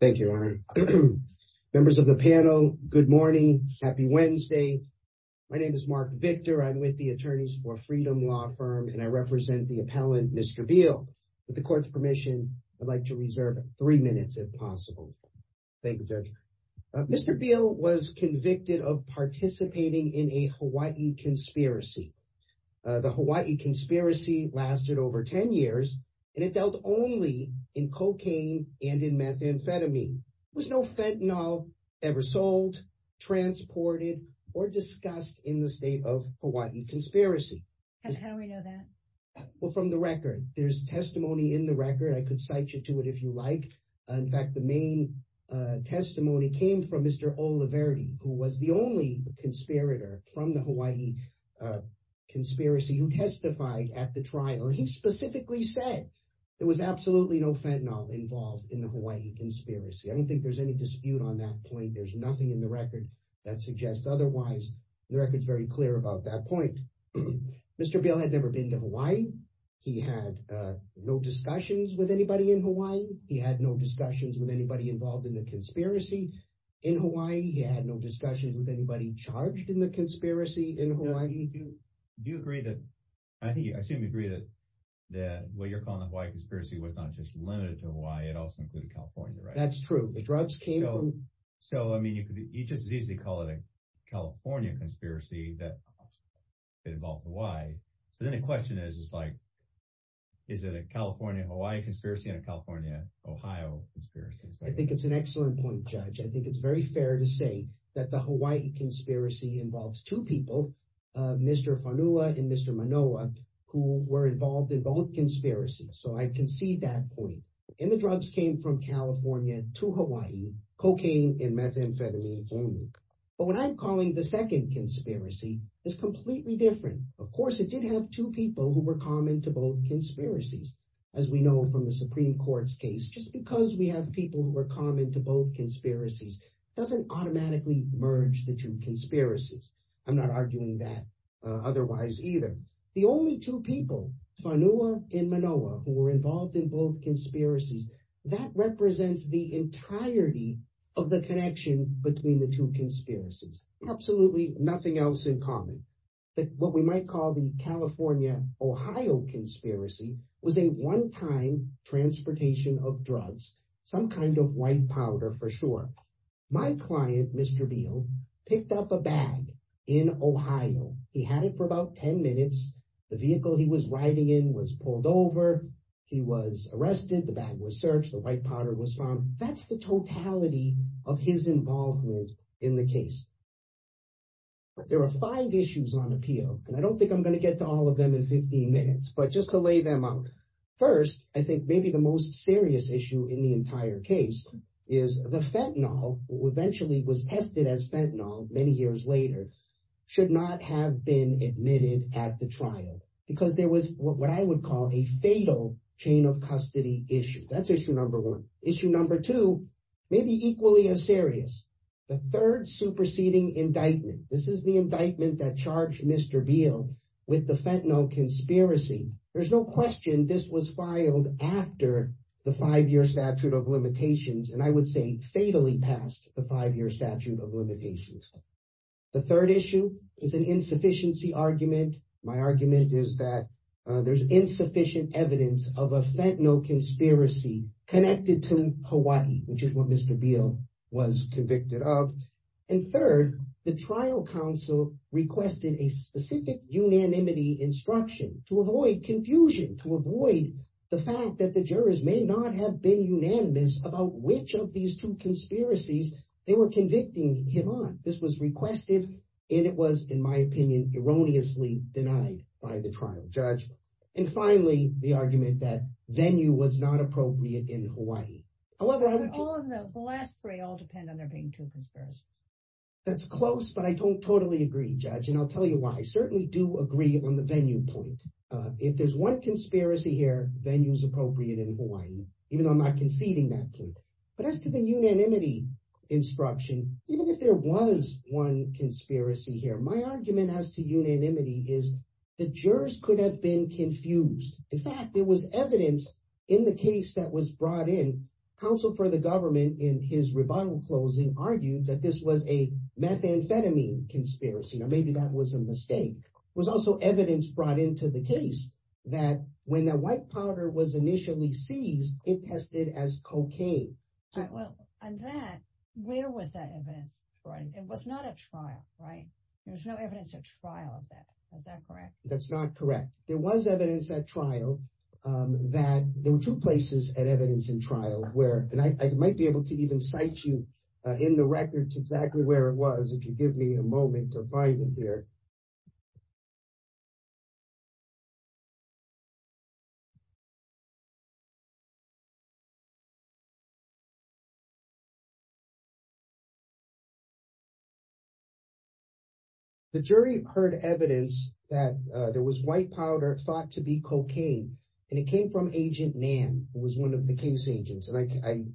Thank you, Your Honor. Members of the panel, good morning. Happy Wednesday. My name is Mark Victor. I'm with the Attorneys for Freedom law firm, and I represent the appellant, Mr. Beal. With the court's permission, I'd like to reserve three minutes, if possible. Thank you, Judge. Mr. Beal was convicted of participating in a Hawaii conspiracy. The Hawaii conspiracy lasted over 10 years, and it dealt only in cocaine and in methamphetamine. There was no fentanyl ever sold, transported, or discussed in the state of Hawaii conspiracy. How do we know that? Well, from the record. There's testimony in the record. I could cite you to it if you like. In fact, the main testimony came from Mr. Oliverdi, who was the only conspirator from Hawaii conspiracy who testified at the trial. He specifically said there was absolutely no fentanyl involved in the Hawaii conspiracy. I don't think there's any dispute on that point. There's nothing in the record that suggests otherwise. The record's very clear about that point. Mr. Beal had never been to Hawaii. He had no discussions with anybody in Hawaii. He had no discussions with anybody involved in the conspiracy in Hawaii. He had no discussions with anybody charged in the conspiracy in Hawaii. Do you agree that—I assume you agree that what you're calling the Hawaii conspiracy was not just limited to Hawaii. It also included California, right? That's true. The drugs came from— So, I mean, you could just as easily call it a California conspiracy that involved Hawaii. But then the question is, is it a California-Hawaii conspiracy and a California-Ohio conspiracy? I think it's an excellent point, Judge. I think it's very fair to say that the Hawaii conspiracy involves two people, Mr. Fanua and Mr. Manoa, who were involved in both conspiracies. So, I can see that point. And the drugs came from California to Hawaii, cocaine and methamphetamine only. But what I'm calling the second conspiracy is completely different. Of course, it did have two people who were common to both conspiracies. As we know from the Supreme Court's case, just because we have people who are common to both conspiracies doesn't automatically merge the two conspiracies. I'm not arguing that otherwise either. The only two people, Fanua and Manoa, who were involved in both conspiracies, that represents the entirety of the connection between the two conspiracies. Absolutely nothing else in common. But what we might call the some kind of white powder, for sure. My client, Mr. Beal, picked up a bag in Ohio. He had it for about 10 minutes. The vehicle he was riding in was pulled over. He was arrested. The bag was searched. The white powder was found. That's the totality of his involvement in the case. But there are five issues on appeal, and I don't think I'm going to get to all of them in 15 minutes. The first issue in the entire case is the fentanyl, which eventually was tested as fentanyl many years later, should not have been admitted at the trial because there was what I would call a fatal chain of custody issue. That's issue number one. Issue number two may be equally as serious. The third superseding indictment, this is the indictment that charged Mr. Beal with the fentanyl conspiracy. There's no question this was filed after the five-year statute of limitations, and I would say fatally past the five-year statute of limitations. The third issue is an insufficiency argument. My argument is that there's insufficient evidence of a fentanyl conspiracy connected to Hawaii, which is what Mr. Beal was convicted of. And third, the trial counsel requested a specific unanimity instruction to avoid confusion, to avoid the fact that the jurors may not have been unanimous about which of these two conspiracies they were convicting him on. This was requested, and it was, in my opinion, erroneously denied by the trial judge. And finally, the argument that venue was not appropriate in Hawaii. However, the last three all depend on there being two conspiracies. That's close, but I don't totally agree, Judge, and I'll tell you why. I certainly do agree on the venue point. If there's one conspiracy here, venue's appropriate in Hawaii, even though I'm not conceding that case. But as to the unanimity instruction, even if there was one conspiracy here, my argument as to unanimity is the jurors could have been confused. In fact, there was counsel for the government in his rebuttal closing argued that this was a methamphetamine conspiracy. Now, maybe that was a mistake. It was also evidence brought into the case that when the white powder was initially seized, it tested as cocaine. Well, on that, where was that evidence? It was not a trial, right? There's no evidence at trial of that. Is that correct? That's not correct. There was evidence at trial that there were two places at evidence in trial where, and I might be able to even cite you in the records exactly where it was, if you give me a moment to find it here. The jury heard evidence that there was white powder thought to be cocaine, and it came from Agent Nan, who was one of the case agents.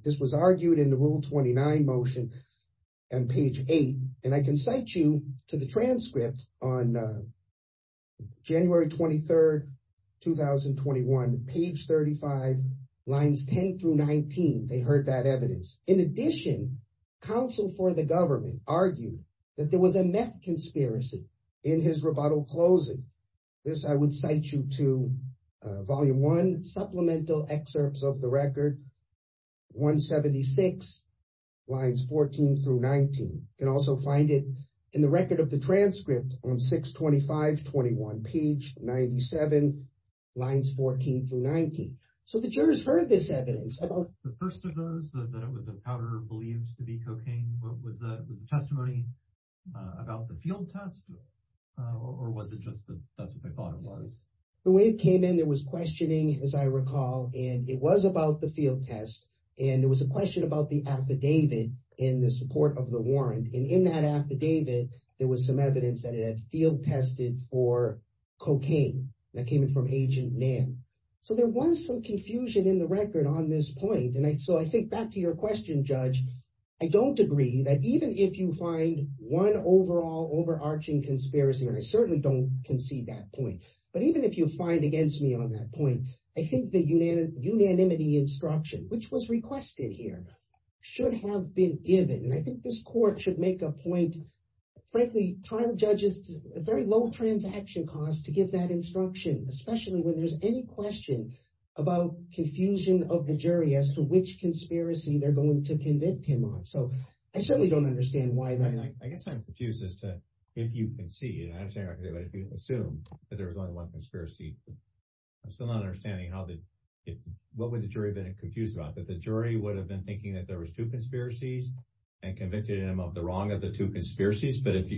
This was argued in the Rule 29 motion on page eight, and I can cite you to the transcript on January 23rd, 2021, page 35, lines 10 through 19. They heard that evidence. In addition, counsel for the government argued that there was a meth conspiracy in his rebuttal closing. This I would cite you to volume one, supplemental excerpts of the record, 176, lines 14 through 19. You can also find it in the record of the transcript on 6-25-21, page 97, lines 14 through 19. So the jurors heard this evidence. The first of those, that it was a powder believed to be cocaine, was the testimony about the field test, or was it just that that's what they thought it was? The way it came in, there was questioning, as I recall, and it was about the field test, and there was a question about the affidavit in the support of the warrant, and in that affidavit, there was some evidence that it had field tested for cocaine that came in from Agent Nan. So there was some confusion in the record on this point, and so I think back to your question, Judge, I don't agree that even if you find one overall overarching conspiracy, and I certainly don't concede that point, but even if you find against me on that point, I think the unanimity instruction, which was requested here, should have been given, and I think this court should make a point, frankly, trial judges, a very low transaction cost to give that instruction, especially when there's any question about confusion of the jury as to which conspiracy they're going to convict him on. So I certainly don't understand why. I guess I'm confused as to if you can see, and I understand what you're saying, but if you assume that there was only one conspiracy, I'm still not understanding what would the jury have been confused about, that the jury would have been thinking that there was two conspiracies and convicted him of the wrong of the two conspiracies, but if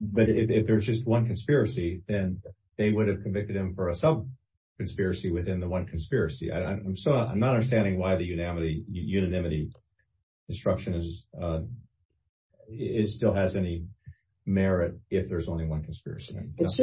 there's just one conspiracy, then they would have convicted him for a sub-conspiracy within the one conspiracy. I'm not understanding why the unanimity instruction still has any merit if there's only one conspiracy. It's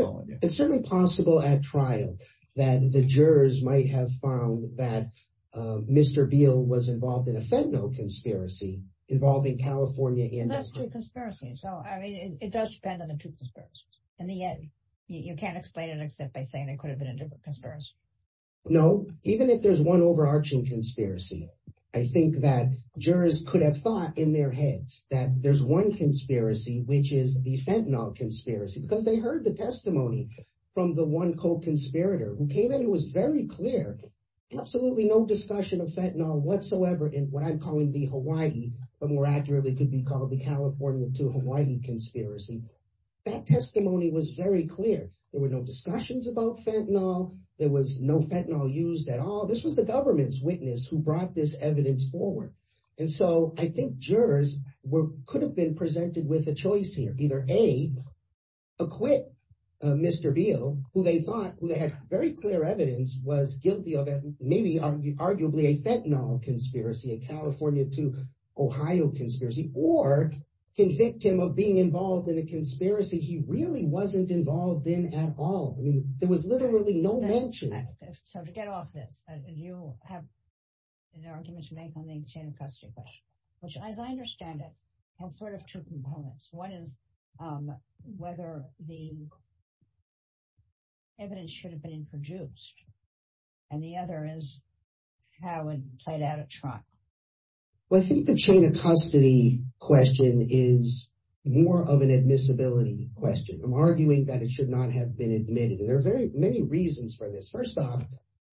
certainly possible at trial that the jurors might have found that Mr. Beal was involved in a federal conspiracy involving California and- That's two conspiracies, so it does depend on the two conspiracies. In the end, you can't explain it except by saying there could have been a different conspiracy. No, even if there's one overarching conspiracy, I think that jurors could have thought in their heads that there's one conspiracy, which is the Fentanyl conspiracy, because they heard the testimony from the one co-conspirator who came in who was very clear, absolutely no discussion of Fentanyl whatsoever in what I'm calling the Hawaii, but more accurately could be called the California to Hawaii conspiracy. That testimony was very clear. There were no discussions about Fentanyl. There was no Fentanyl used at all. This was the government's witness who brought this evidence forward, and so I think jurors could have been presented with a choice here. Either A, acquit Mr. Beal, who they thought who had very clear evidence was guilty of maybe arguably a Fentanyl conspiracy, a California to Ohio conspiracy, or convict him of being involved in a conspiracy he really wasn't involved in at all. There was literally no mention. So to get off this, you have an argument to make on the chain of custody question, which as I understand it, has sort of two components. One is whether the evidence should have been introduced, and the other is how it played out at trial. Well, I think the chain of custody question is more of an admissibility question. I'm arguing that it should not have been admitted, and there are very many reasons for this. First off,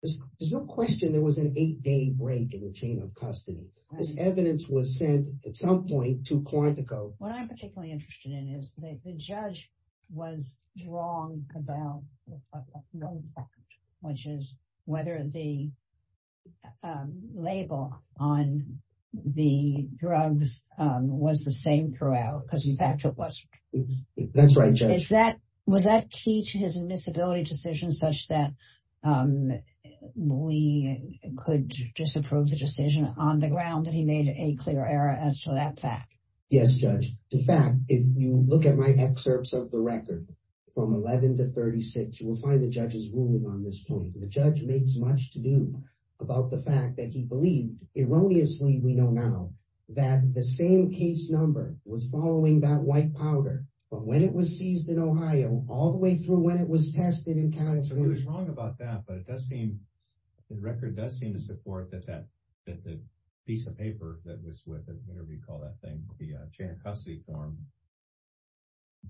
there's no question there was an eight-day break in the chain of custody. This evidence was sent at some point to Quantico. What I'm particularly interested in is the judge was wrong about one fact, which is whether the label on the drugs was the same throughout, because in fact it was. That's right, Judge. Was that key to his admissibility decision such that we could disapprove the decision on the ground that he made a clear error as to that fact? Yes, Judge. In fact, if you look at my excerpts of the record from 11 to 36, you will find the judge is ruling on this point. The judge makes much to do about the fact that he believed, erroneously we know now, that the same case number was following that white powder from when it was seized in Ohio all the way through when it was tested in California. So he was wrong about that, but the record does seem to support that piece of the chain of custody form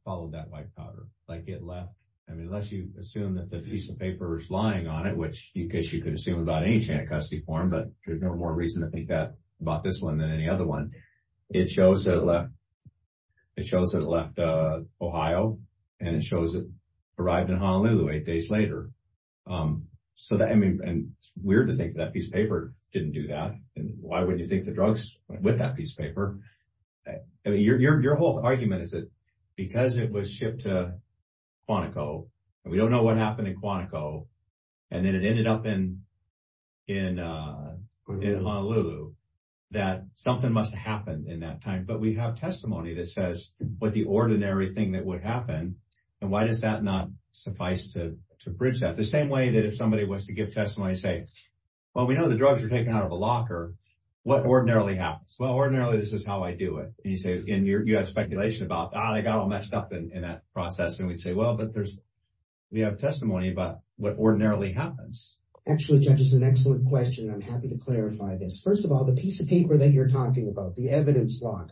followed that white powder. Unless you assume that the piece of paper is lying on it, which you could assume about any chain of custody form, but there's no more reason to think that about this one than any other one. It shows that it left Ohio and it shows it arrived in Honolulu eight days later. It's weird to think that piece of paper didn't do that. Why would you think the drugs went with that piece of paper? Your whole argument is that because it was shipped to Quantico and we don't know what happened in Quantico and then it ended up in Honolulu, that something must have happened in that time. But we have testimony that says what the ordinary thing that would happen and why does that not suffice to bridge that. The same way that if somebody was to give testimony and say, well, we know the drugs are taken out of a locker, what ordinarily happens? Well, ordinarily, this is how I do it. And you say, and you have speculation about, I got all messed up in that process. And we'd say, well, but there's, we have testimony about what ordinarily happens. Actually, Judge, it's an excellent question. I'm happy to clarify this. First of all, the piece of paper that you're talking about, the evidence lock,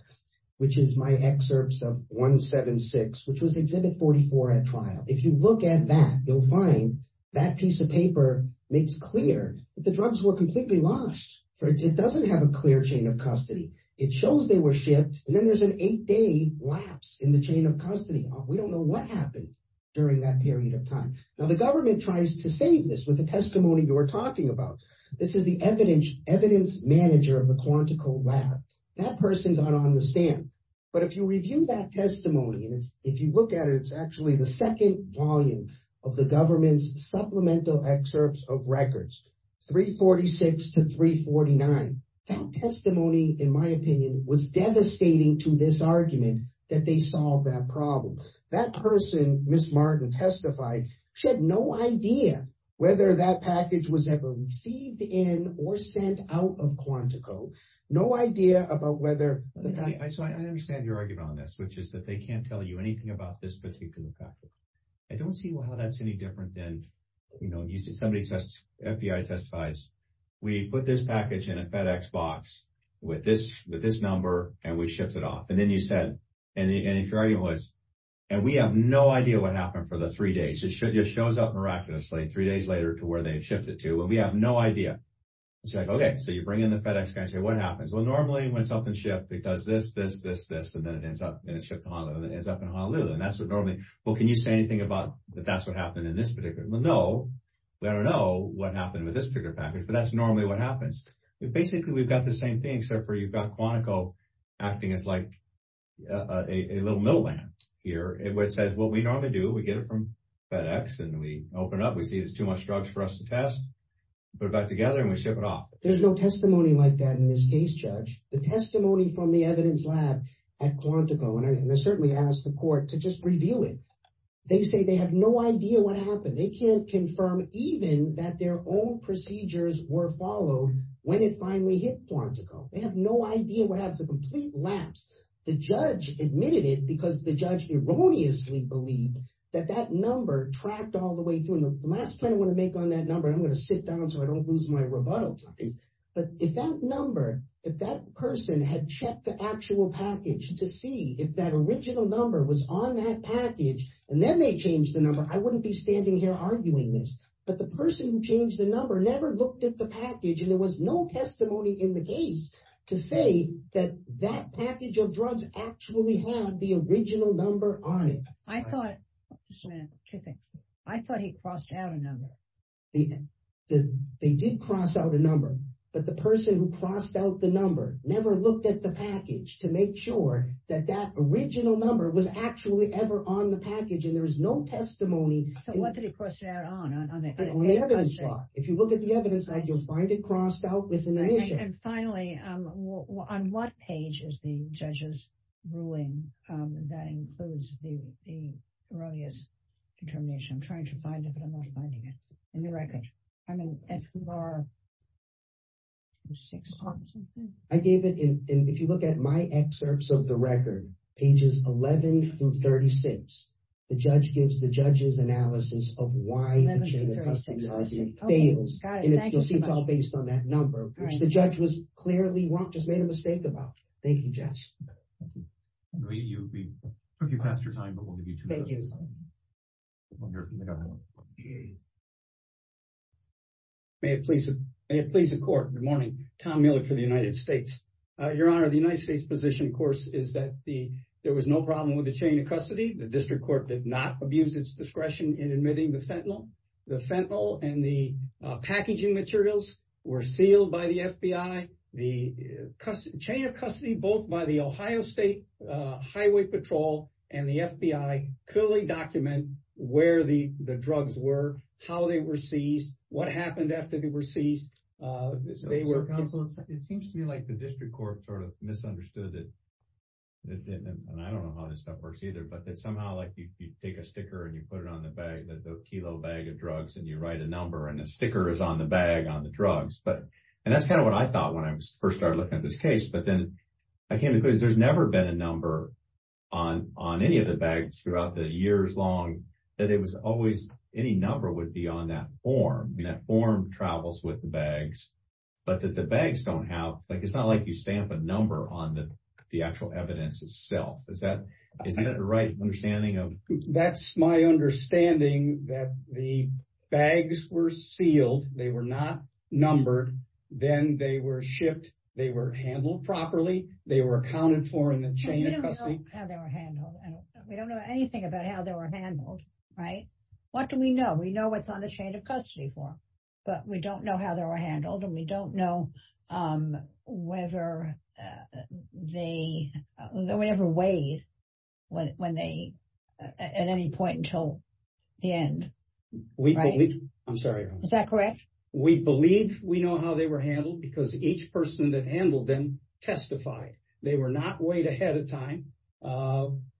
which is my excerpts of 176, which was exhibit 44 at trial. If you look at that, you'll find that piece of paper makes clear that the drugs were completely lost. It doesn't have a clear chain of custody. It shows they were shipped and then there's an eight day lapse in the chain of custody. We don't know what happened during that period of time. Now the government tries to save this with the testimony you're talking about. This is the evidence manager of the Quantico lab. That person got on the stand, but if you review that testimony and if you look at it, it's actually the second volume of the government's supplemental excerpts of records, 346 to 349. That testimony, in my opinion, was devastating to this argument that they solved that problem. That person, Ms. Martin testified, she had no idea whether that package was ever received in or sent out of Quantico. No idea about whether the guy, I understand your argument on this, which is that they can't tell you about this particular package. I don't see how that's any different than somebody testifies, we put this package in a FedEx box with this number and we shipped it off. Then you said, and if your argument was, and we have no idea what happened for the three days. It shows up miraculously three days later to where they shipped it to, but we have no idea. It's like, okay, so you bring in the FedEx guy and say, what happens? Well, normally when something's shipped, it does this, this, this, this, and then it ends up in Honolulu. And that's what normally, well, can you say anything about that? That's what happened in this particular? Well, no, we don't know what happened with this particular package, but that's normally what happens. Basically, we've got the same thing, except for you've got Quantico acting as like a little middleman here. It says, well, we normally do, we get it from FedEx and we open up, we see there's too much drugs for us to test, put it back together and we ship it off. There's no testimony like that in this case, judge. The testimony from the evidence lab at Quantico, and I certainly asked the court to just review it. They say they have no idea what happened. They can't confirm even that their own procedures were followed when it finally hit Quantico. They have no idea what happens, a complete lapse. The judge admitted it because the judge erroneously believed that that number tracked all the way through. And the last point I want to make on that number, I'm going to sit down so I don't lose my rebuttal. But if that number, if that person had checked the actual package to see if that original number was on that package, and then they changed the number, I wouldn't be standing here arguing this. But the person who changed the number never looked at the package and there was no testimony in the case to say that that package of drugs actually had the original number on it. I thought, just a minute, two things. I thought he crossed out a number. They did cross out a number, but the person who crossed out the number never looked at the package to make sure that that original number was actually ever on the package, and there was no testimony. So what did he cross out on? If you look at the evidence lab, you'll find it crossed out within an issue. And finally, on what page is the judge's ruling that includes the erroneous determination? I'm not finding it in the record. I mean, I gave it, and if you look at my excerpts of the record, pages 11 through 36, the judge gives the judge's analysis of why the chain of custody fails, and you'll see it's all based on that number, which the judge was clearly wrong, just made a mistake about. Thank you, Judge. I know you, we took you past your time, but we'll give you two minutes. Thank you. May it please the court. Good morning. Tom Miller for the United States. Your Honor, the United States position, of course, is that there was no problem with the chain of custody. The district court did not abuse its discretion in admitting the fentanyl. The fentanyl and the packaging materials were sealed by the FBI. The chain of custody, both by the Ohio State Highway Patrol and the FBI, clearly document where the drugs were, how they were seized, what happened after they were seized. It seems to me like the district court sort of misunderstood that, and I don't know how this stuff works either, but that somehow like you take a sticker and you put it on the bag, the kilo bag of drugs, and you write a number and a sticker is on the bag on the drugs. And that's kind of what I thought when I first started looking at this case. But then I came to because there's never been a number on any of the bags throughout the years long that it was always any number would be on that form. And that form travels with the bags, but that the bags don't have, like, it's not like you stamp a number on the actual evidence itself. Is that, is that the right understanding of? That's my understanding that the bags were sealed. They were not numbered. Then they were shipped. They were handled properly. They were accounted for in the chain of custody. We don't know how they were handled. We don't know anything about how they were handled. Right. What do we know? We know what's on the chain of custody form, but we don't know how they were handled. And we don't know whether they were ever weighed when they at any point until the end. We believe. I'm sorry. Is that correct? We believe we know how they were handled because each person that handled them testified. They were not weighed ahead of time.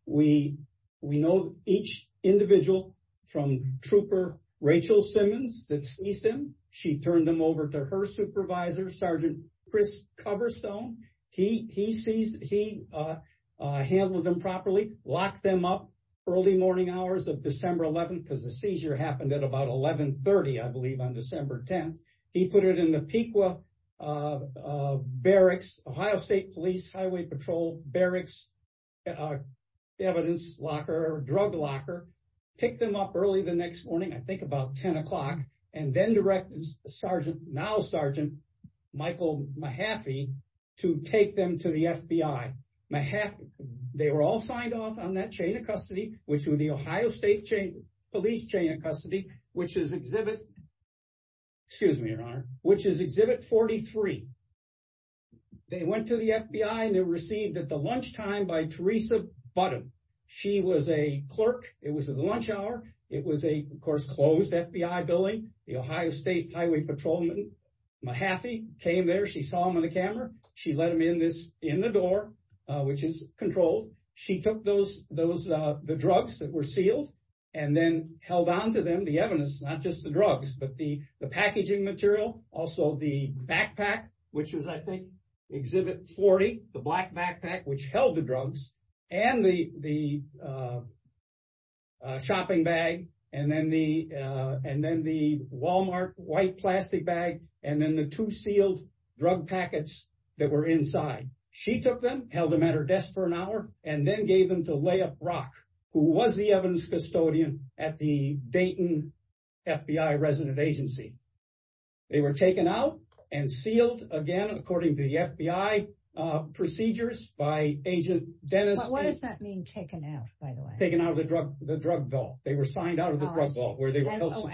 We we know each individual from trooper Rachel Simmons that sees them. She turned them over to her supervisor, Sergeant Chris Coverstone. He sees he handled them properly, locked them up early morning hours of December 11th because the seizure happened at about 1130. I believe on December 10th, he put it in the PQA barracks, Ohio state police highway patrol barracks, evidence locker, drug locker, pick them up early the next morning, I think about 10 o'clock and then direct Sergeant now Sergeant Michael Mahaffey to take them to the FBI. Mahaffey, they were all signed off on that chain of custody, which were the Ohio State chain police chain of custody, which is exhibit. Excuse me, your honor, which is exhibit 43. They went to the FBI and they received at the lunchtime by Teresa Button. She was a clerk. It was at lunch hour. It was a, of course, closed FBI building. The Ohio State Highway Patrolman Mahaffey came there. She saw him on the camera. She let him in this, in the door, which is controlled. She took those, the drugs that were sealed and then held on to them, the evidence, not just the drugs, but the packaging material. Also the backpack, which is I think exhibit 40, the black backpack, which held the drugs and the shopping bag. And then the Walmart white plastic bag. And then the two sealed drug packets that were inside. She took them, held them at her desk for an hour, and then gave them to Layup Rock, who was the evidence custodian at the Dayton FBI resident agency. They were taken out and sealed again, according to the FBI procedures by agent Dennis. What does that mean taken out by the way? Taken out of the drug, the drug bill. They were signed out of the drug where they were held.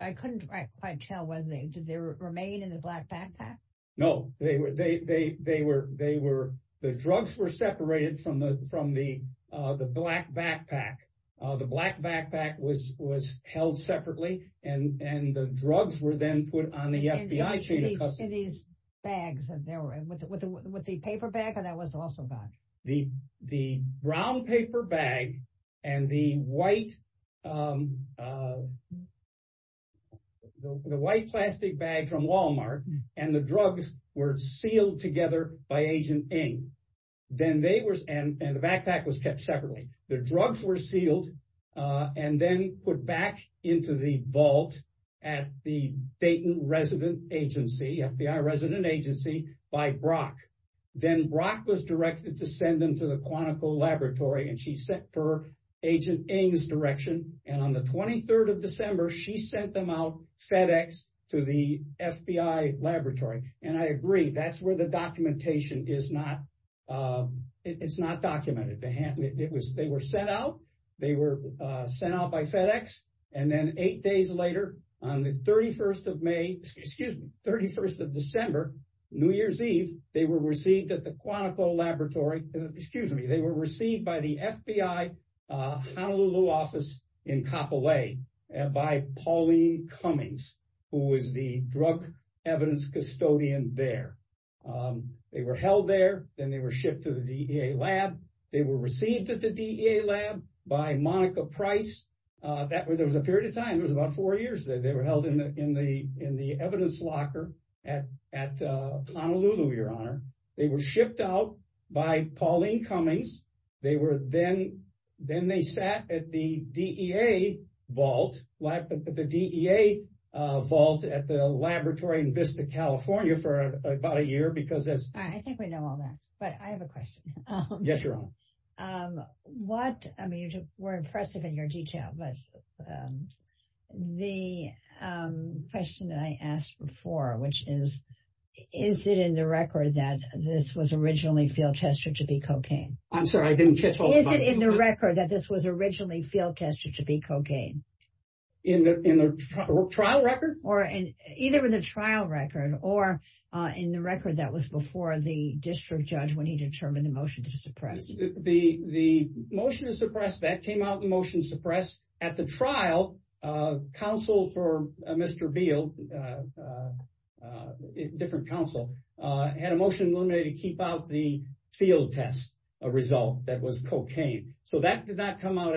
I couldn't quite tell whether they, did they remain in the black backpack? No, they were, they, they, they were, they were, the drugs were separated from the, from the, the black backpack. The black backpack was, was held separately and, and the drugs were then put on the FBI chain of custody. In these bags, and they were, with the, with the, with the paper bag that was also bagged. The, the brown paper bag and the white, the white plastic bag from Walmart and the drugs were sealed together by agent Ng. Then they were, and the backpack was kept separately. The drugs were sealed and then put back into the vault at the Dayton resident agency, FBI resident agency by Brock. Then Brock was directed to send them to the Quantico laboratory and she sent her agent Ng's direction. And on the 23rd of December, she sent them out FedEx to the FBI laboratory. And I agree, that's where the documentation is not, it's not documented. They had, it was, they were sent out, they were sent out by FedEx. And then eight days later, on the 31st of May, excuse me, 31st of December, New Year's Eve, they were received at the Quantico laboratory, excuse me, they were received by the FBI Honolulu office in Kapolei by Pauline Cummings, who was the drug evidence custodian there. They were held there. Then they were shipped to the DEA lab. They were received at the DEA lab by Monica Price. That was, there was a period of they were held in the evidence locker at Honolulu, your honor. They were shipped out by Pauline Cummings. They were then, then they sat at the DEA vault, the DEA vault at the laboratory in Vista, California for about a year because as- I think we know all that, but I have a question. Yes, your honor. What, I mean, you were impressive in your detail, but the question that I asked before, which is, is it in the record that this was originally field-tested to be cocaine? I'm sorry, I didn't catch all of that. Is it in the record that this was originally field-tested to be cocaine? In the trial record? Either in the trial record or in the record that was before the district judge when he determined the motion to suppress. The motion to suppress, that came out in the motion to suppress. At the trial, council for Mr. Beale, a different council, had a motion to keep out the field test result that was cocaine. So that did not come out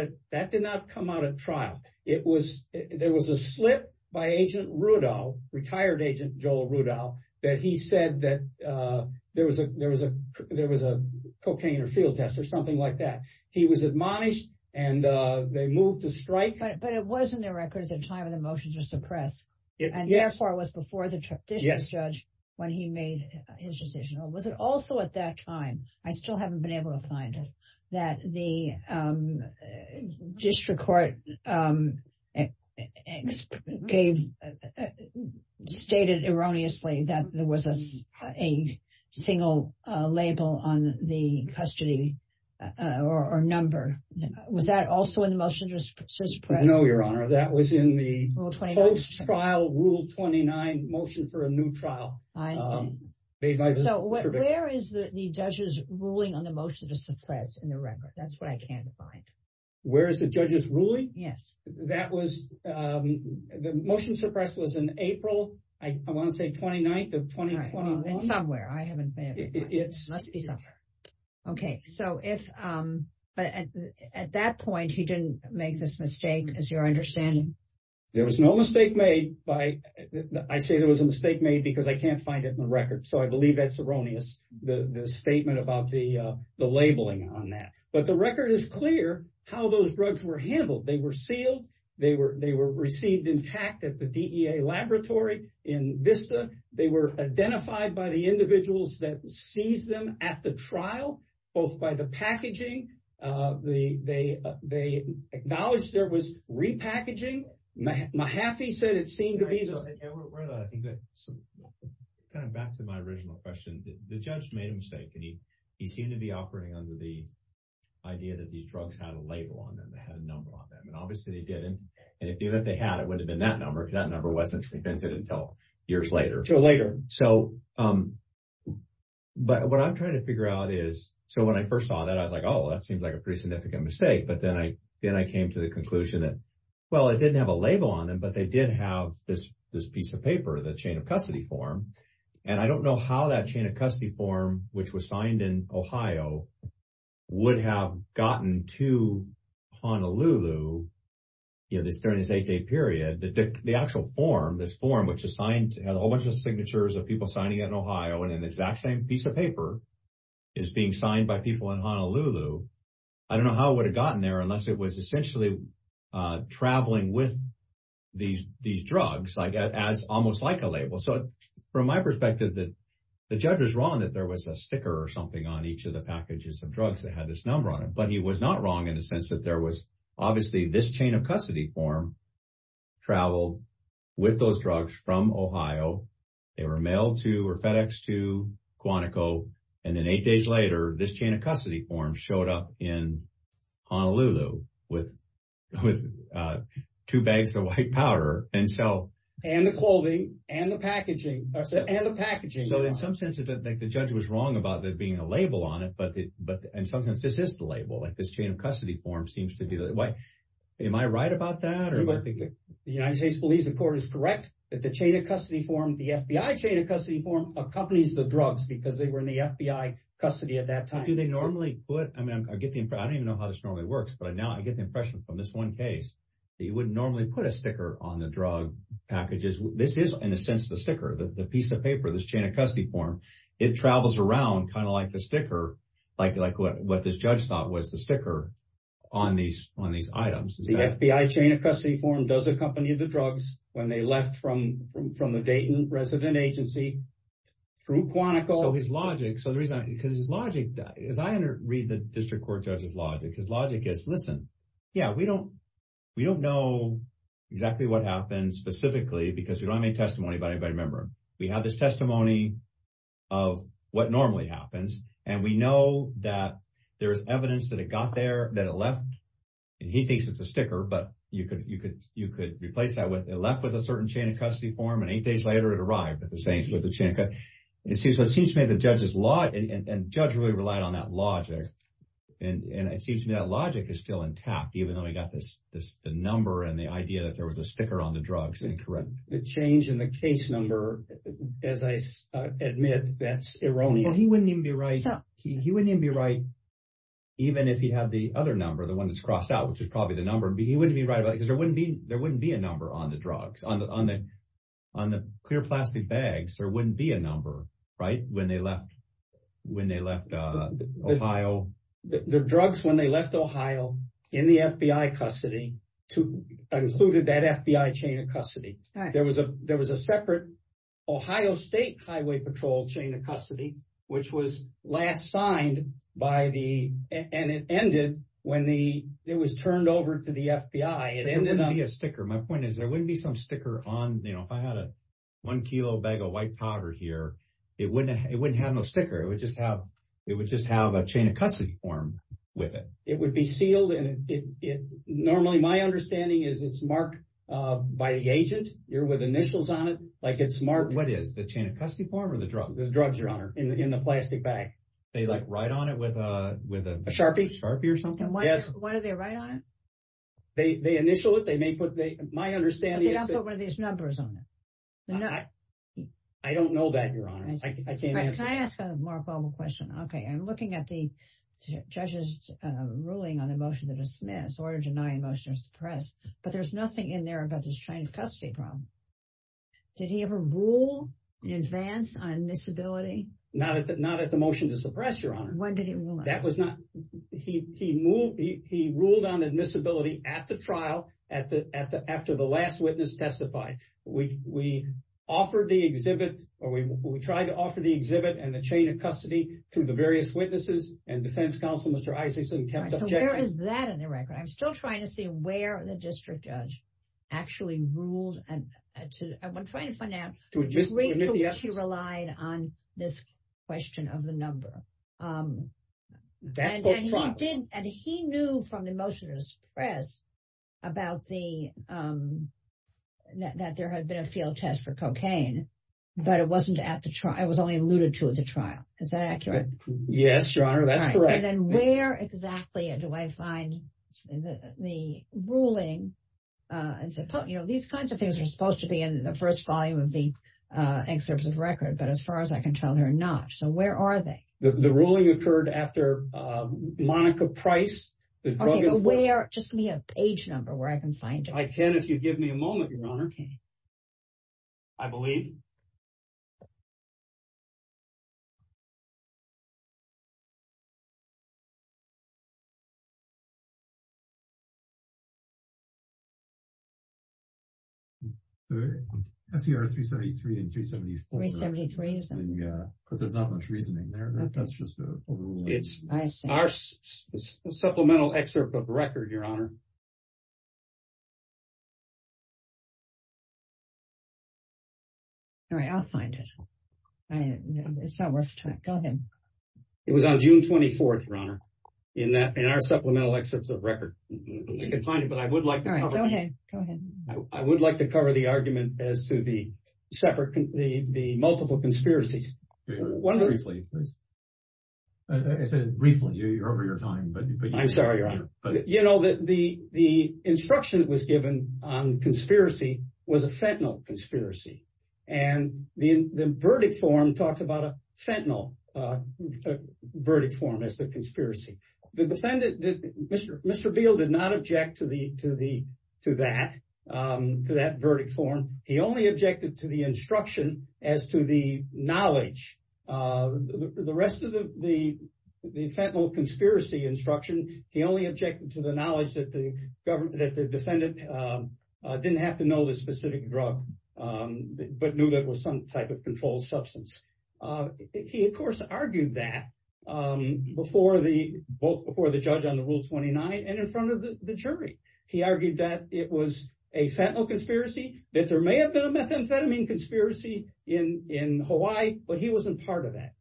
at trial. It was, there was a slip by agent Rudolph, retired agent Joel Rudolph, that he said that there was a cocaine or field test or something like that. He was admonished and they moved to strike. But it was in the record at the time of the motion to suppress. Yes. And therefore it was before the district judge when he made his decision. Or was it also at that time, I still haven't been able to find it, that the district court stated erroneously that there was a single label on the custody or number. Was that also in the motion to suppress? No, Your Honor. That was in the post-trial rule 29 motion for a new trial. So where is the judge's ruling on the motion to suppress in the record? That's what I can't find. Where is the judge's ruling? Yes. That was, the motion to suppress was in April, I want to say 29th of 2021. Somewhere, I haven't been able to find it. It must be somewhere. Okay. So if, but at that point he didn't make this mistake as you're understanding. There was no mistake made by, I say there was a mistake made because I can't find it in the But the record is clear how those drugs were handled. They were sealed. They were received intact at the DEA laboratory in Vista. They were identified by the individuals that seized them at the trial, both by the packaging. They acknowledged there was repackaging. Mahaffey said it seemed to be. Yeah, I think that kind of back to my original question, the judge made a mistake and he seemed to be operating under the idea that these drugs had a label on them. They had a number on them and obviously they didn't and if they had, it would have been that number because that number wasn't prevented until years later. So later. So, but what I'm trying to figure out is, so when I first saw that, I was like, oh, that seems like a pretty significant mistake. But then I came to the conclusion that, well, it didn't have a label on them, but they did have this piece of paper, the chain of custody form. And I don't know how that chain of custody form, which was signed in Ohio would have gotten to Honolulu, you know, this during this eight day period, the actual form, this form, which assigned a whole bunch of signatures of people signing it in Ohio and an exact same piece of paper is being signed by people in Honolulu. I don't know how it would have gotten there unless it was essentially traveling with these drugs, like as almost like a label. So from my perspective, that the judge was wrong that there was a sticker or something on each of the packages of drugs that had this number on it, but he was not wrong in the sense that there was obviously this chain of custody form traveled with those drugs from Ohio. They were mailed to or FedEx to Quantico. And then days later, this chain of custody form showed up in Honolulu with two bags of white powder. And so and the clothing and the packaging and the packaging. So in some sense, I think the judge was wrong about that being a label on it. But but in some sense, this is the label, like this chain of custody form seems to do that. Am I right about that? The United States police report is correct that the chain of custody form, the FBI chain of custody form accompanies the drugs because they were in the FBI custody at that time. Do they normally put I mean, I get the I don't even know how this normally works. But now I get the impression from this one case that you wouldn't normally put a sticker on the drug packages. This is, in a sense, the sticker, the piece of paper, this chain of custody form. It travels around kind of like the sticker, like like what this judge thought was the sticker on these on these items. The FBI chain of custody form does accompany the drugs when they left from from the Dayton Resident Agency through Quantico, his logic. So the reason because his logic, as I read the district court judge's logic, his logic is, listen, yeah, we don't we don't know exactly what happened specifically because we don't have any testimony by a member. We have this testimony of what normally happens. And we know that there is evidence that it got there, that it left. And he thinks it's a sticker. But you could you could you could replace that left with a certain chain of custody form. And eight days later, it arrived at the same with the chance. It seems it seems to me the judge's law and judge really relied on that logic. And it seems to me that logic is still intact, even though we got this, this number and the idea that there was a sticker on the drugs and correct the change in the case number. As I admit, that's erroneous. He wouldn't even be right. He wouldn't even be right, even if he had the other number, the one that's crossed out, which is probably the number. He wouldn't be right because there wouldn't be there wouldn't be a number on the drugs, on the clear plastic bags. There wouldn't be a number. Right. When they left, when they left Ohio, the drugs, when they left Ohio in the FBI custody to included that FBI chain of custody, there was a there was a separate Ohio State Highway Patrol chain of custody, which was last signed by the and it ended when the it was turned over to the FBI. It ended up being a sticker. My point is there wouldn't be some sticker on, you know, if I had a one kilo bag of white powder here, it wouldn't it wouldn't have no sticker. It would just have it would just have a chain of custody form with it. It would be sealed. And it normally my understanding is it's marked by the agent. You're with initials on it. Like it's marked. What is the chain of custody form or the drug? The drugs are in the plastic bag. They like right on it with a with a sharpie, sharpie or something. Yes. Why do they write on it? They initial it. They make what they might understand. They don't put one of these numbers on it. I don't know that, Your Honor. I can't ask a more formal question. OK, I'm looking at the judge's ruling on the motion to dismiss or deny a motion to suppress. But there's nothing in there about this chain of custody problem. Did he ever rule in advance on admissibility? Not at the not at the motion to suppress your honor. When did he rule? That was not he he moved. He ruled on admissibility at the trial, at the at the after the last witness testified. We we offered the exhibit or we tried to offer the exhibit and the chain of custody to the various witnesses and defense counsel, Mr. Isakson. So where is that in the record? I'm still trying to see where the district judge actually ruled. And I'm trying to find out. Do we just wait? Yes. He relied on this question of the number that he didn't. And he knew from the motion to suppress about the that there had been a field test for cocaine, but it wasn't at the trial. It was only alluded to at the trial. Is that accurate? Yes, Your Honor. That's correct. And then where exactly do I find the ruling? And so, you know, these kinds of things are supposed to be in the first volume of the excerpts of record. But as far as I can tell, they're not. So where are they? The ruling occurred after Monica Price. The drug is where just me a page number where I can find if you give me a moment, Your Honor. Okay. I believe. I see our three seventy three and three seventy three seventy three. Yeah, because there's not much reasoning there. That's just it. All right, I'll find it. It's not worth it. Go ahead. It was on June 24th, Your Honor, in that in our supplemental excerpts of record. You can find it, but I would like to go ahead. Go ahead. I would like to cover the argument as to the separate the multiple conspiracies. One briefly, please. I said briefly, you're over your time, but I'm sorry, Your Honor. You know, the the the instruction that was given on conspiracy was a fentanyl conspiracy. And the verdict form talked about a fentanyl verdict form as the conspiracy. The defendant, Mr. Beal, did not object to the to the to that to that verdict form. He only objected to the instruction as to the knowledge of the rest of the the the fentanyl conspiracy instruction. He only objected to the knowledge that the government, that the defendant didn't have to know this specific drug, but knew that was some type of controlled substance. He, of course, argued that before the both before the judge on the rule twenty nine and in front of the jury. He argued that it was a fentanyl conspiracy, that there may have been a methamphetamine conspiracy in in Hawaii, but he wasn't part of that.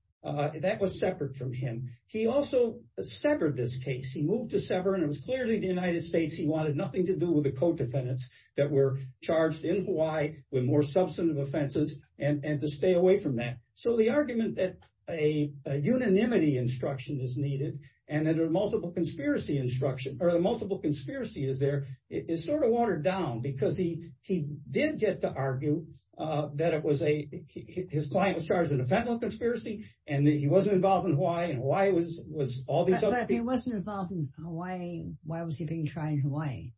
That was separate from him. He also severed this case. He moved to sever. And it was clearly the United States. He wanted nothing to do with the co-defendants that were charged in Hawaii with more substantive offenses and to stay away from that. So the argument that a unanimity instruction is needed and that a multiple conspiracy instruction or the multiple conspiracy is there is sort of watered down because he he did get to argue that it was a his client was charged in a fentanyl conspiracy and that he wasn't involved in Hawaii and why it was was all that he wasn't involved in Hawaii. Why was he being tried in Hawaii?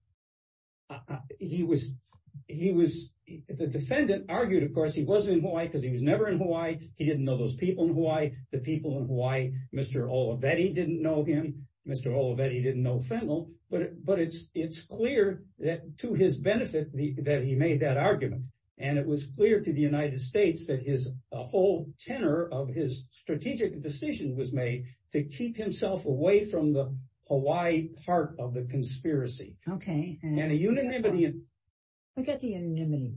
He was he was the defendant argued, of course, he wasn't in Hawaii because he was never in Hawaii. He didn't know those people in Hawaii. The people in Hawaii, Mr. Olivetti didn't know him. Mr. Olivetti didn't know fentanyl. But but it's it's clear that to his benefit, that he made that argument. And it was clear to the United States that his whole tenor of his strategic decision was made to keep himself away from the Hawaii part of the conspiracy. Okay. And a unanimity. Forget the unanimity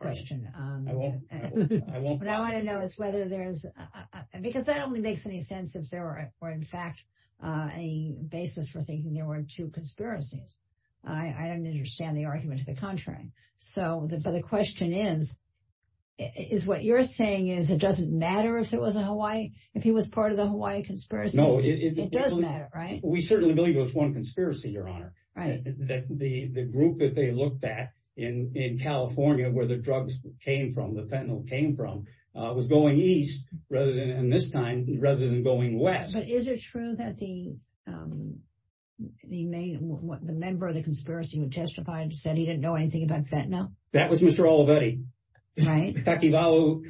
question. I won't. I won't. But I want to know is whether there's because that only makes any sense if there were, in fact, a basis for thinking there were two conspiracies. I don't understand the argument to the contrary. So the question is, is what you're saying is it doesn't matter if it was a Hawaii if he was part of the Hawaii conspiracy? No, it doesn't matter. Right. We certainly believe it was one conspiracy, Your Honor. Right. The group that they looked at in in California where the drugs came from, the fentanyl came from, was going east rather than in this time rather than going west. But is it true that the the main what the member of the conspiracy would testify and said he didn't know anything about fentanyl? That was Mr. Olivetti. Right. Takivalu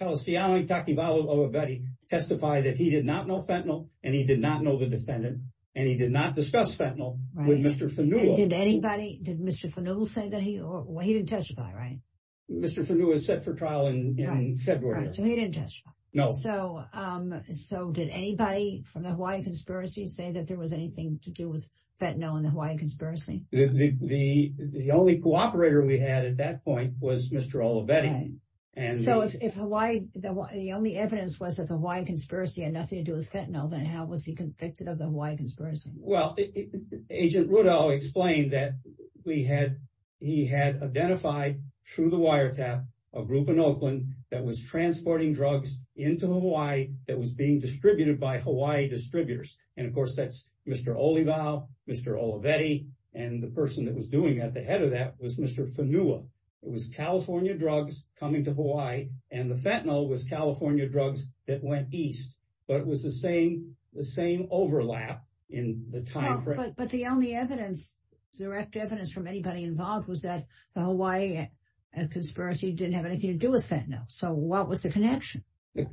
Kalisiali Takivalu Olivetti testified that he did not know fentanyl and he did not know the defendant and he did not discuss fentanyl with Mr. Fanula. Did anybody did Mr. Fanula say that he or he didn't testify, right? Mr. Fanula was set for trial in February. So he didn't testify. No. So so did anybody from the Hawaii conspiracy say that there was anything to do with fentanyl in the Hawaii conspiracy? The the only cooperator we had at that point was Mr. Olivetti. And so if Hawaii the only evidence was that the Hawaii conspiracy had nothing to do with fentanyl, then how was he convicted of the we had he had identified through the wiretap a group in Oakland that was transporting drugs into Hawaii that was being distributed by Hawaii distributors. And of course, that's Mr. Olivao, Mr. Olivetti. And the person that was doing that, the head of that was Mr. Fanula. It was California drugs coming to Hawaii and the fentanyl was California drugs that went east. But it was the same overlap in the time. But the only evidence, direct evidence from anybody involved was that the Hawaii conspiracy didn't have anything to do with fentanyl. So what was the connection?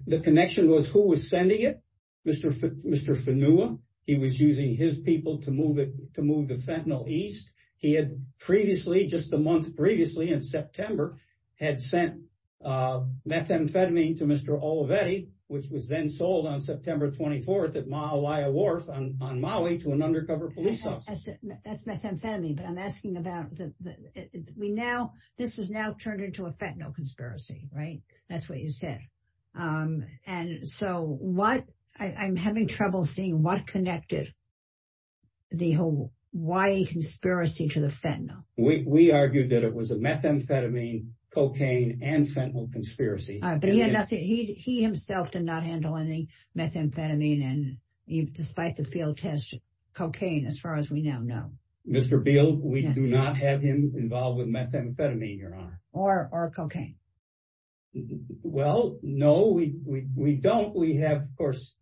The connection was who was sending it? Mr. Mr. Fanula. He was using his people to move it to move the fentanyl east. He had previously just a month previously in September had sent methamphetamine to Mr. Olivetti, which was then sold on September 24th at Maui a wharf on Maui to an undercover police officer. That's methamphetamine. But I'm asking about the we now this is now turned into a fentanyl conspiracy, right? That's what you said. And so what I'm having trouble seeing what connected the Hawaii conspiracy to the fentanyl. We argued that it was a methamphetamine, cocaine and fentanyl conspiracy. But he had nothing. He himself did not handle any methamphetamine. And despite the field test, cocaine, as far as we now know, Mr. Beal, we do not have him involved with methamphetamine or cocaine. Well, no, we don't. We have course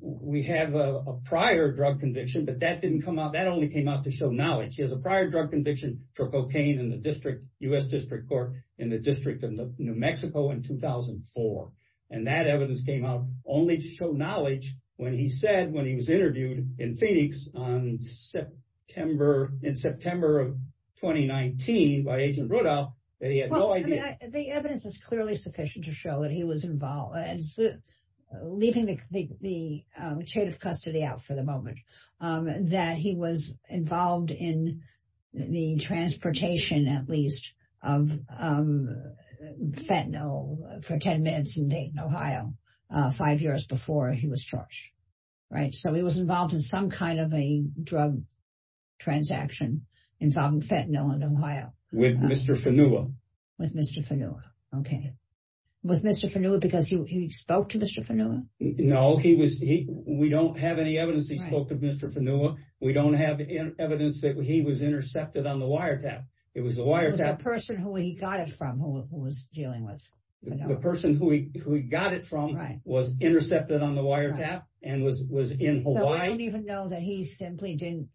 we have a prior drug conviction, but that didn't come out. That only came out to show knowledge. He has a prior drug conviction for cocaine in the district, U.S. District Court in the district of New Mexico in 2004. And that evidence came out only to show knowledge when he said when he was interviewed in Phoenix on September in September of 2019 by Agent Rudolph, they had no idea. The evidence is clearly sufficient to show that he was involved as leaving the chain of custody out for the moment, that he was involved in the transportation, at least, of fentanyl for 10 minutes in Dayton, Ohio, five years before he was charged. Right. So he was involved in some kind of a drug transaction involving fentanyl in Ohio. With Mr. Fenua. With Mr. Fenua. Okay. With Mr. Fenua because he spoke to Mr. Fenua? No, he was he we don't have any evidence. He spoke to Mr. Fenua. We don't have evidence that he was intercepted on the wiretap. It was the wiretap. The person who he got it from who was dealing with. The person who he got it from was intercepted on the wiretap and was in Hawaii. I don't even know that he simply didn't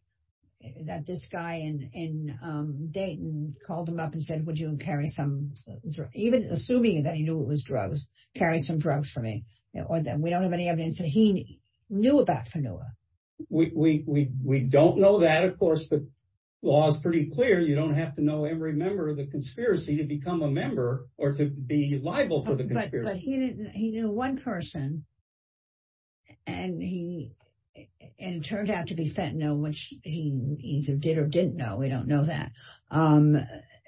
that this guy in Dayton called him up and said, would you carry some even assuming that he knew it was drugs, carry some drugs for me or that we don't have any evidence that he knew about Fenua. We don't know that. Of course, the law is pretty clear. You don't have to know every member of the conspiracy to become a member or to be liable for the conspiracy. But he didn't. He knew one person. And he and it turned out to be fentanyl, which he either did or didn't know. We don't know that.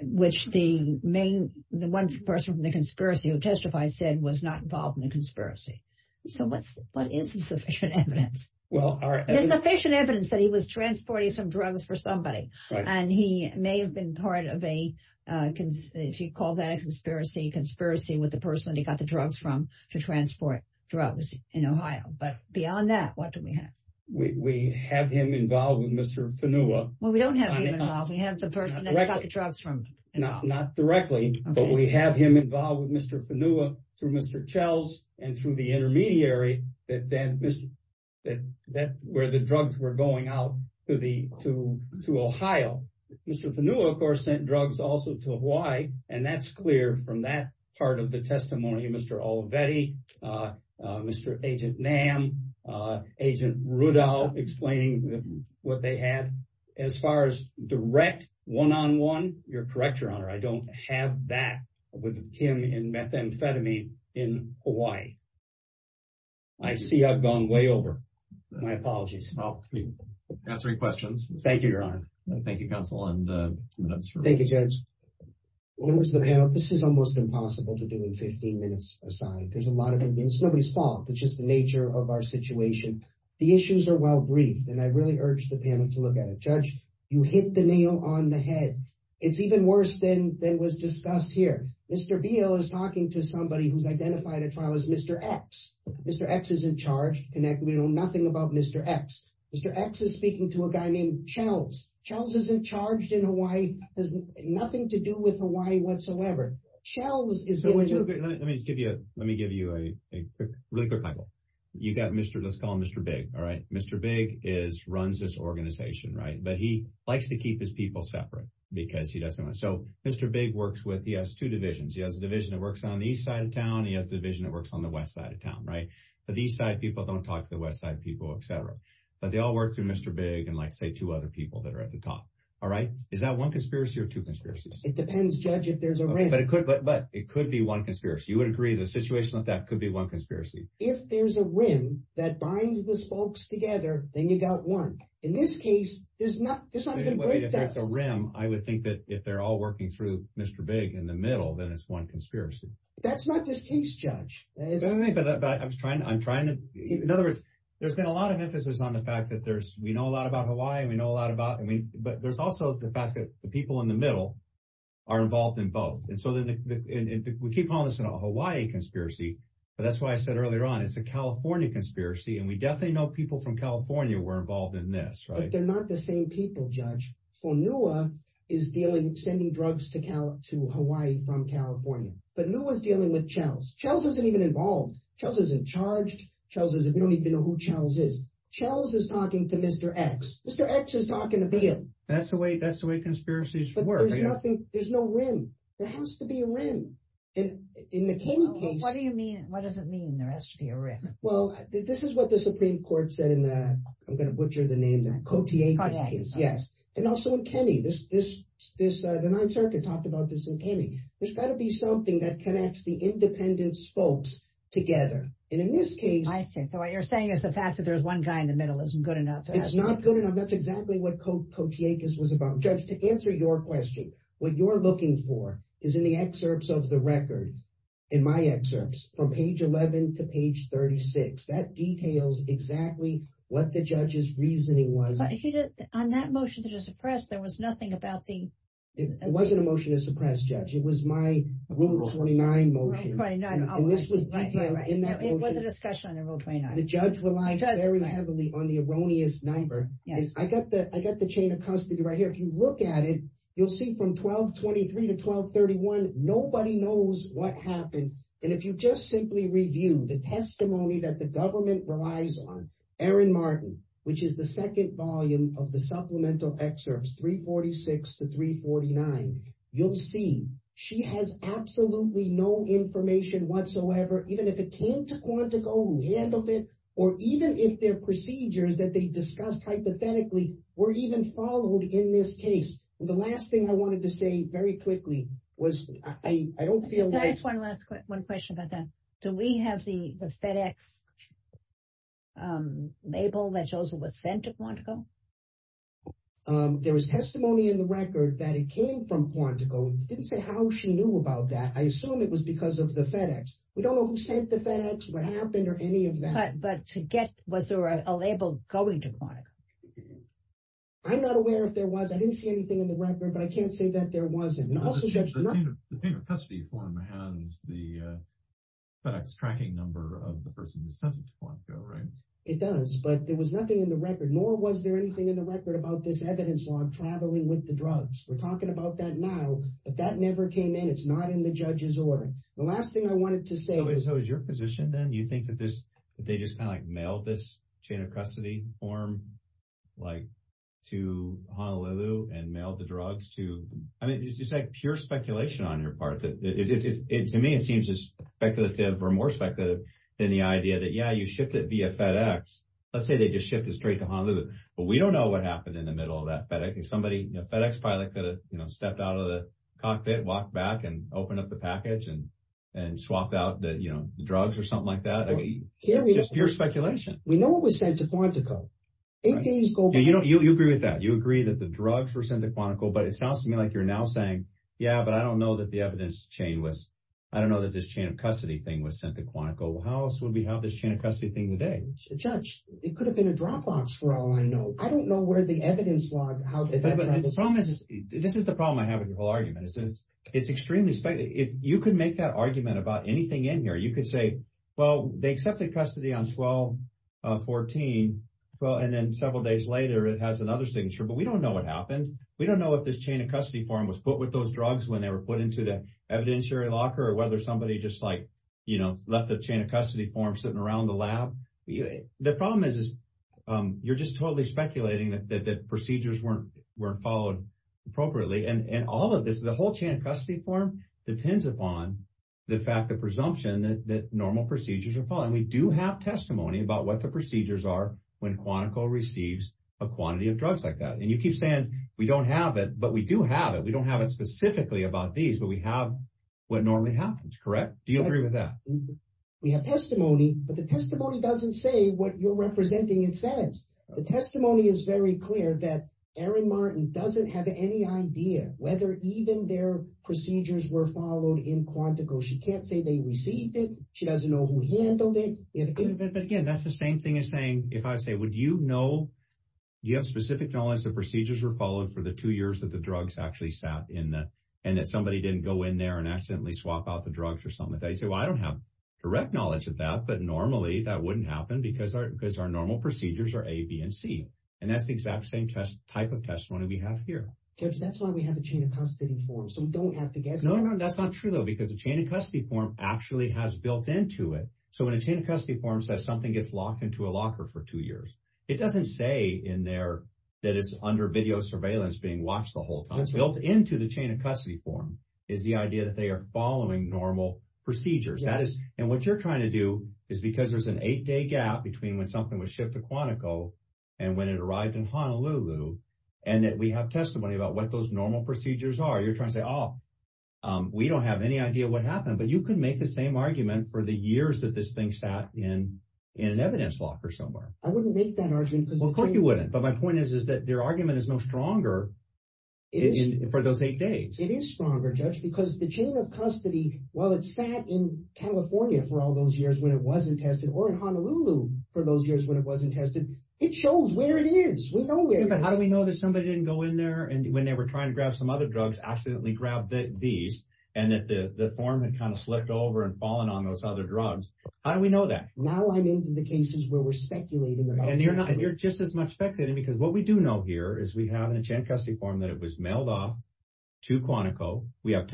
Which the main, the one person from the conspiracy who testified said was not involved in the conspiracy. So what's what is the sufficient evidence? Well, there's sufficient evidence that he was transporting some drugs for somebody. And he may have been part of a if you call that a conspiracy conspiracy with the person he got the drugs from to transport drugs in Ohio. But beyond that, what do we have? We have him involved with Mr. Fenua. Well, we don't have him involved. We have the person who got the drugs from him. Not directly, but we have him involved with Mr. Fenua through Mr. Chells and through the intermediary that then that that where the drugs were going out to the to to Ohio. Mr. Fenua, of course, sent drugs also to Hawaii. And that's clear from that part of the testimony of Mr. Olivetti, Mr. Agent Nam, Agent Rudolph explaining what they had as far as direct one on one. You're correct, Your Honor. I don't have that with him in methamphetamine in Hawaii. I see I've gone way over. My apologies. Answering questions. Thank you, Your Honor. Thank you, counsel. And thank you, Judge. This is almost impossible to do in 15 minutes aside. There's a lot of it. It's nobody's fault. It's just the nature of our situation. The issues are well briefed. And I really urge the panel to look at it. Judge, you hit the nail on the head. It's even worse than than was discussed here. Mr. Veal is talking to somebody who's identified a trial as Mr. X. Mr. X isn't charged. And we know nothing about Mr. X. Mr. X is speaking to a guy named Chells. Chells isn't charged in Hawaii, has nothing to do with Hawaii whatsoever. Chells is going to give you let me give you a really good title. You got Mr. Let's call him but he likes to keep his people separate because he doesn't want to. So Mr. Big works with he has two divisions. He has a division that works on the east side of town. He has the division that works on the west side of town. Right. But these side people don't talk to the west side people, etc. But they all work through Mr. Big and like, say, two other people that are at the top. All right. Is that one conspiracy or two conspiracies? It depends, Judge, if there's a ring, but it could but it could be one conspiracy. You would agree the situation that that could be one conspiracy. If there's a ring that binds the spokes together, then you got one. In this case, there's not there's not even a ring that's a rim. I would think that if they're all working through Mr. Big in the middle, then it's one conspiracy. That's not this case, Judge. But I was trying. I'm trying to. In other words, there's been a lot of emphasis on the fact that there's we know a lot about Hawaii. We know a lot about it. But there's also the fact that the people in the middle are involved in both. And so we keep calling this a Hawaii conspiracy. But that's why I said earlier on, it's a California conspiracy. And we definitely know people from California were involved in this, right? They're not the same people, Judge. For NUA is dealing, sending drugs to count to Hawaii from California. But NUA is dealing with CHELS. CHELS isn't even involved. CHELS isn't charged. CHELS is, we don't even know who CHELS is. CHELS is talking to Mr. X. Mr. X is talking to Bill. That's the way that's the way conspiracies work. There's no rim. There has to be a rim. In the King case. What do you mean? What does it mean there has to be a rim? Well, this is what the Supreme Court said in the, I'm going to butcher the name, the Kotyakis case. Yes. And also in Kenney, the Ninth Circuit talked about this in Kenney. There's got to be something that connects the independence folks together. And in this case, I see. So what you're saying is the fact that there's one guy in the middle isn't good enough. It's not good enough. That's exactly what Kotyakis was about. Judge, to answer your question, what you're looking for is in the excerpts of the record, in my excerpts from page 11 to page 36, that details exactly what the judge's reasoning was. On that motion to suppress, there was nothing about the. It wasn't a motion to suppress judge. It was my rule 49 motion. Rule 49. And this was in that motion. It was a discussion on the rule 49. The judge relied very heavily on the erroneous neighbor. I got the chain of custody right here. You look at it, you'll see from 1223 to 1231, nobody knows what happened. And if you just simply review the testimony that the government relies on Aaron Martin, which is the second volume of the supplemental excerpts, 346 to 349, you'll see she has absolutely no information whatsoever, even if it came to Quantico handled it, or even if their procedures that they discussed hypothetically were even followed in this case. The last thing I wanted to say very quickly was, I don't feel like one last one question about that. Do we have the FedEx label that Joseph was sent to Quantico? There was testimony in the record that it came from Quantico. Didn't say how she knew about that. I assume it was because of the FedEx. We don't know who sent the FedEx, what happened or any of that. But to get was there a label going to it? I'm not aware if there was, I didn't see anything in the record, but I can't say that there wasn't. The chain of custody form has the FedEx tracking number of the person who sent it to Quantico, right? It does, but there was nothing in the record, nor was there anything in the record about this evidence log traveling with the drugs. We're talking about that now, but that never came in. It's not in the judge's order. The last thing I wanted to say. So is your position then, you think that they just kind of like mailed this chain of custody form to Honolulu and mailed the drugs to, I mean, it's just like pure speculation on your part. To me, it seems just speculative or more speculative than the idea that, yeah, you shipped it via FedEx. Let's say they just shipped it straight to Honolulu, but we don't know what happened in the middle of that FedEx. If somebody in a FedEx pilot could have stepped out of the cockpit, walked back and opened up the package and swapped out the drugs or something like that. I mean, it's just pure speculation. We know it was sent to Quantico. You agree with that. You agree that the drugs were sent to Quantico, but it sounds to me like you're now saying, yeah, but I don't know that the evidence chain was, I don't know that this chain of custody thing was sent to Quantico. How else would we have this chain of custody thing today? Judge, it could have been a drop box for all I know. I don't know where the evidence log... This is the problem I have with your whole argument. It's extremely speculative. You could make that argument about anything in here. You could say, well, they accepted custody on 12-14. Well, and then several days later, it has another signature, but we don't know what happened. We don't know if this chain of custody form was put with those drugs when they were put into the evidentiary locker or whether somebody just like, you know, left the chain of custody form sitting around the lab. The problem is, you're just totally speculating that the whole chain of custody form depends upon the fact of presumption that normal procedures are followed. And we do have testimony about what the procedures are when Quantico receives a quantity of drugs like that. And you keep saying we don't have it, but we do have it. We don't have it specifically about these, but we have what normally happens, correct? Do you agree with that? We have testimony, but the testimony doesn't say what you're representing it says. The testimony is very clear that Erin Martin doesn't have any idea whether even their procedures were followed in Quantico. She can't say they received it. She doesn't know who handled it. But again, that's the same thing as saying, if I say, would you know, do you have specific knowledge that procedures were followed for the two years that the drugs actually sat in there and that somebody didn't go in there and accidentally swap out the drugs or something like that? You say, well, I don't have direct knowledge of that, but normally that wouldn't happen because our, because our normal procedures are A, B, and C. And that's the exact same test type of testimony we have here. That's why we have a chain of custody form. So we don't have to guess. No, no, no. That's not true though, because the chain of custody form actually has built into it. So when a chain of custody form says something gets locked into a locker for two years, it doesn't say in there that it's under video surveillance being watched the whole time. It's built into the chain of custody form is the idea that they are following normal procedures. And what you're trying to do is because there's an eight day gap between when something was shipped to Quantico and when it arrived in Honolulu, and that we have testimony about what those normal procedures are. You're trying to say, oh, um, we don't have any idea what happened, but you could make the same argument for the years that this thing sat in an evidence locker somewhere. I wouldn't make that argument because of course you wouldn't. But my point is, is that their argument is no stronger for those eight days. It is stronger judge because the chain of California for all those years, when it wasn't tested or in Honolulu for those years, when it wasn't tested, it shows where it is with nowhere. But how do we know that somebody didn't go in there and when they were trying to grab some other drugs, accidentally grabbed these and that the form had kind of slipped over and fallen on those other drugs. How do we know that? Now I'm into the cases where we're speculating. And you're not, you're just as much speculating because what we do know here is we have an a chain of custody form that it was mailed off to Quantico. We have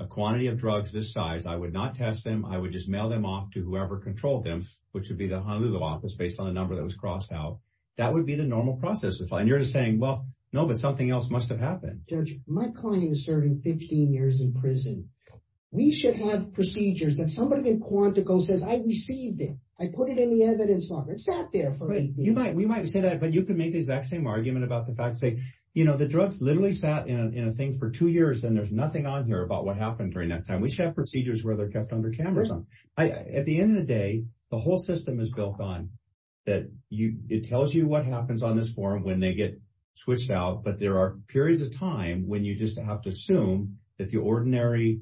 a quantity of drugs this size. I would not test them. I would just mail them off to whoever controlled them, which would be the Honolulu office based on the number that was crossed out. That would be the normal process. And you're just saying, well, no, but something else must have happened. My client is serving 15 years in prison. We should have procedures that somebody in Quantico says, I received it. I put it in the evidence locker. It sat there for eight days. We might say that, but you could make the exact same argument about the fact that, you know, drugs literally sat in a thing for two years and there's nothing on here about what happened during that time. We should have procedures where they're kept under cameras. At the end of the day, the whole system is built on that. It tells you what happens on this form when they get switched out. But there are periods of time when you just have to assume that the ordinary,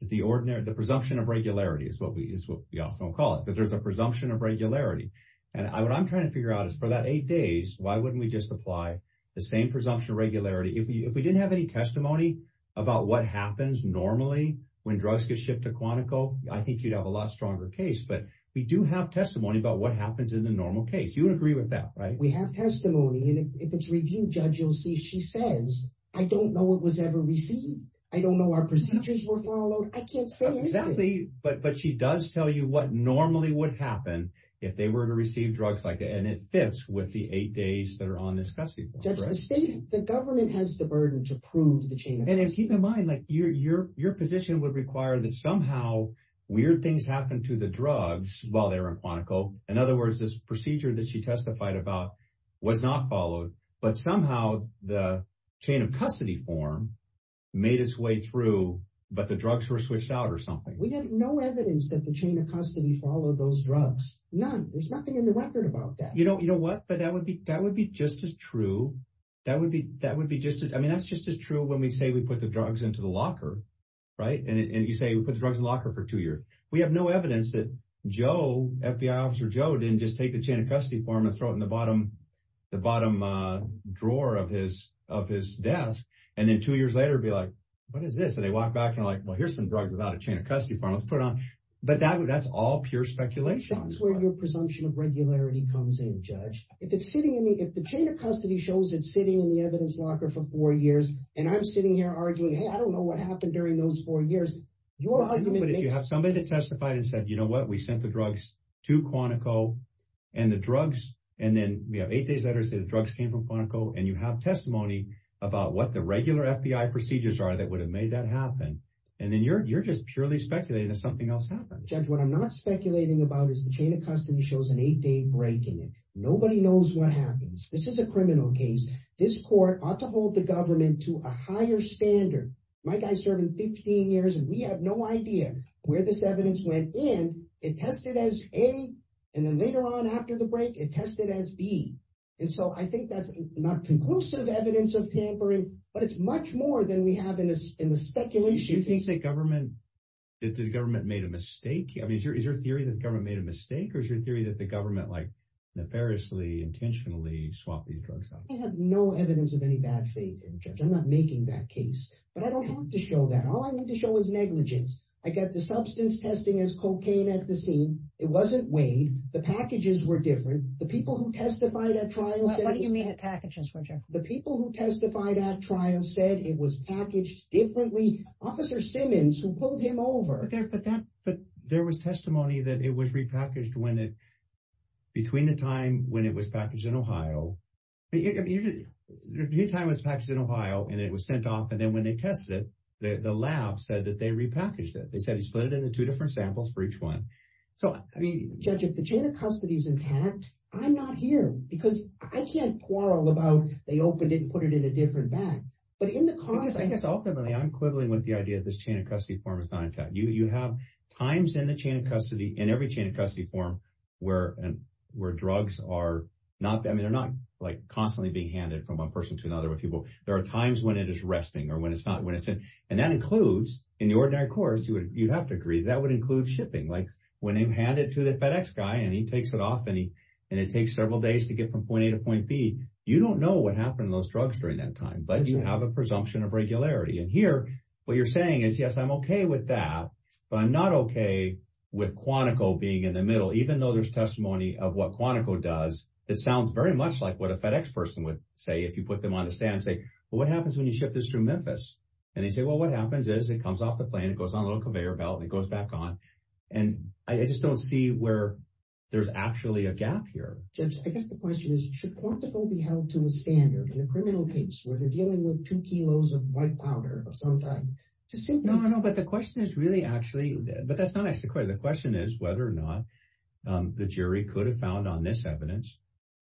the ordinary, the presumption of regularity is what we often call it, that there's a presumption of regularity. And what I'm trying to figure out is for that eight days, why wouldn't we just apply the same presumption of regularity? If we didn't have any testimony about what happens normally when drugs get shipped to Quantico, I think you'd have a lot stronger case. But we do have testimony about what happens in the normal case. You would agree with that, right? We have testimony. And if it's review judge, you'll see, she says, I don't know what was ever received. I don't know our procedures were followed. I can't say. Exactly. But she does tell you what normally would happen if they were to receive drugs like that. And it fits with the eight days that are on this custody. The government has the burden to prove the chain. And keep in mind that your position would require that somehow weird things happen to the drugs while they were in Quantico. In other words, this procedure that she testified about was not followed, but somehow the chain of custody form made its way through, but the drugs were switched out or something. We have no evidence that the none, there's nothing in the record about that. You don't, you know what? But that would be, that would be just as true. That would be, that would be just as, I mean, that's just as true when we say we put the drugs into the locker, right? And you say we put the drugs in the locker for two years. We have no evidence that Joe, FBI officer Joe, didn't just take the chain of custody form and throw it in the bottom, the bottom drawer of his, of his desk. And then two years later, it'd be like, what is this? And they walked back and like, well, here's some drugs without a presumption of regularity comes in judge. If it's sitting in the, if the chain of custody shows it sitting in the evidence locker for four years, and I'm sitting here arguing, Hey, I don't know what happened during those four years. You're arguing, but if you have somebody that testified and said, you know what? We sent the drugs to Quantico and the drugs. And then we have eight days letters that drugs came from Quantico and you have testimony about what the regular FBI procedures are that would have made that happen. And then you're, you're just purely speculating that something else happened. What I'm not speculating about is the chain of custody shows an eight day break in it. Nobody knows what happens. This is a criminal case. This court ought to hold the government to a higher standard. My guy served in 15 years and we have no idea where this evidence went in. It tested as a, and then later on after the break, it tested as B. And so I think that's not conclusive evidence of tampering, but it's much more than we have in the speculation. Do you think the government, that the government made a mistake? I mean, is your theory that the government made a mistake? Or is your theory that the government like nefariously intentionally swapped these drugs out? I have no evidence of any bad faith in judge. I'm not making that case, but I don't have to show that. All I need to show is negligence. I got the substance testing as cocaine at the scene. It wasn't weighed. The packages were different. The people who testified at trials. What do you mean at packages? The people who differently, officer Simmons who pulled him over. But there was testimony that it was repackaged between the time when it was packaged in Ohio. But your time was packaged in Ohio and it was sent off. And then when they tested it, the lab said that they repackaged it. They said he split it into two different samples for each one. So I mean, judge, if the chain of custody is intact, I'm not here because I can't quarrel about, they opened it and put it in a different bag. But in the cause, I guess ultimately I'm quibbling with the idea that this chain of custody form is not intact. You have times in the chain of custody, in every chain of custody form where drugs are not, I mean, they're not like constantly being handed from one person to another with people. There are times when it is resting or when it's not, when it's in, and that includes in the ordinary course, you would, you'd have to agree that would include shipping. Like when you hand it to the FedEx guy and he takes it off and he, and it takes several days to get from point A to point B, you don't know what happened to those drugs during that time, but you have a presumption of regularity. And here, what you're saying is, yes, I'm okay with that, but I'm not okay with Quantico being in the middle, even though there's testimony of what Quantico does. It sounds very much like what a FedEx person would say if you put them on the stand and say, well, what happens when you ship this through Memphis? And they say, well, what happens is it comes off the plane. It goes on a little conveyor belt and it goes back on. And I just don't see where there's actually a gap here. Judge, I guess the question is, should Quantico be held to a standard in a criminal case where they're dealing with two kilos of white powder of some type? No, no, no. But the question is really actually, but that's not actually the question. The question is whether or not the jury could have found on this evidence,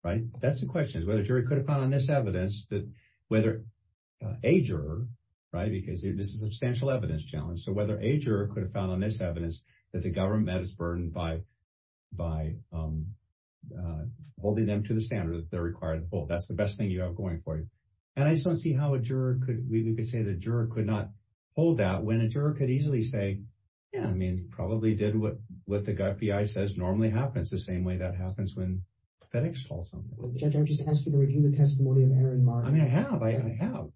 right? That's the question is whether a jury could have found on this evidence that whether a juror, right, because this is a substantial evidence challenge. So whether a juror could have found on this evidence that the government has burdened by, by holding them to the standard that they're required to hold, that's the best thing you have going for you. And I just don't see how a juror could, we could say the juror could not hold that when a juror could easily say, yeah, I mean, probably did what, what the FBI says normally happens the same way that happens when FedEx calls something. Judge, I'm just asking to review the testimony of Erin Martin. I mean, I have, I have,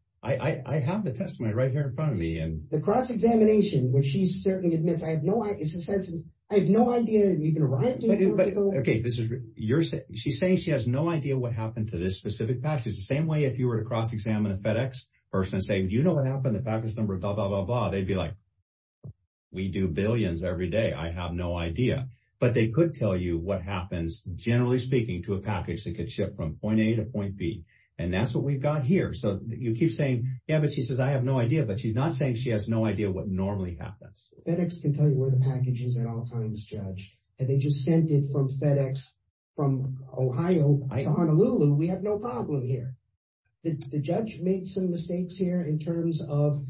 I have the testimony right here in front of me and. The cross-examination, which she certainly admits, I have no, it's a census, I have no idea. Okay. This is your, she's saying she has no idea what happened to this specific package. The same way, if you were to cross-examine a FedEx person and say, do you know what happened to the package number? Blah, blah, blah, blah. They'd be like, we do billions every day. I have no idea, but they could tell you what happens generally speaking to a package that could ship from point A to point B. And that's what we've got here. So you keep saying, yeah, but she says, I have no idea, but she's not saying she has no idea what normally happens. FedEx can tell you the packages at all times, Judge. And they just sent it from FedEx from Ohio to Honolulu. We have no problem here. The judge made some mistakes here in terms of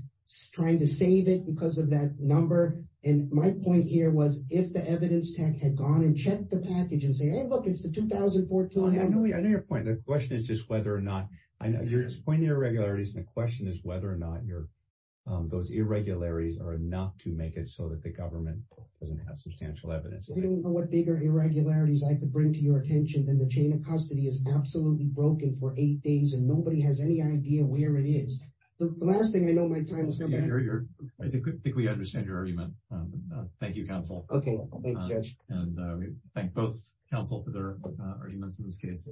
trying to save it because of that number. And my point here was if the evidence tech had gone and checked the package and say, Hey, look, it's the 2014 number. I know your point. The question is just whether or not, I know you're just pointing to irregularities and the question is whether or not your, those irregularities are enough to make it so that the government doesn't have substantial evidence. If you don't know what bigger irregularities I could bring to your attention, then the chain of custody is absolutely broken for eight days and nobody has any idea where it is. The last thing I know my time is coming. I think we understand your argument. Thank you, counsel. Okay. And we thank both counsel for their arguments in this case.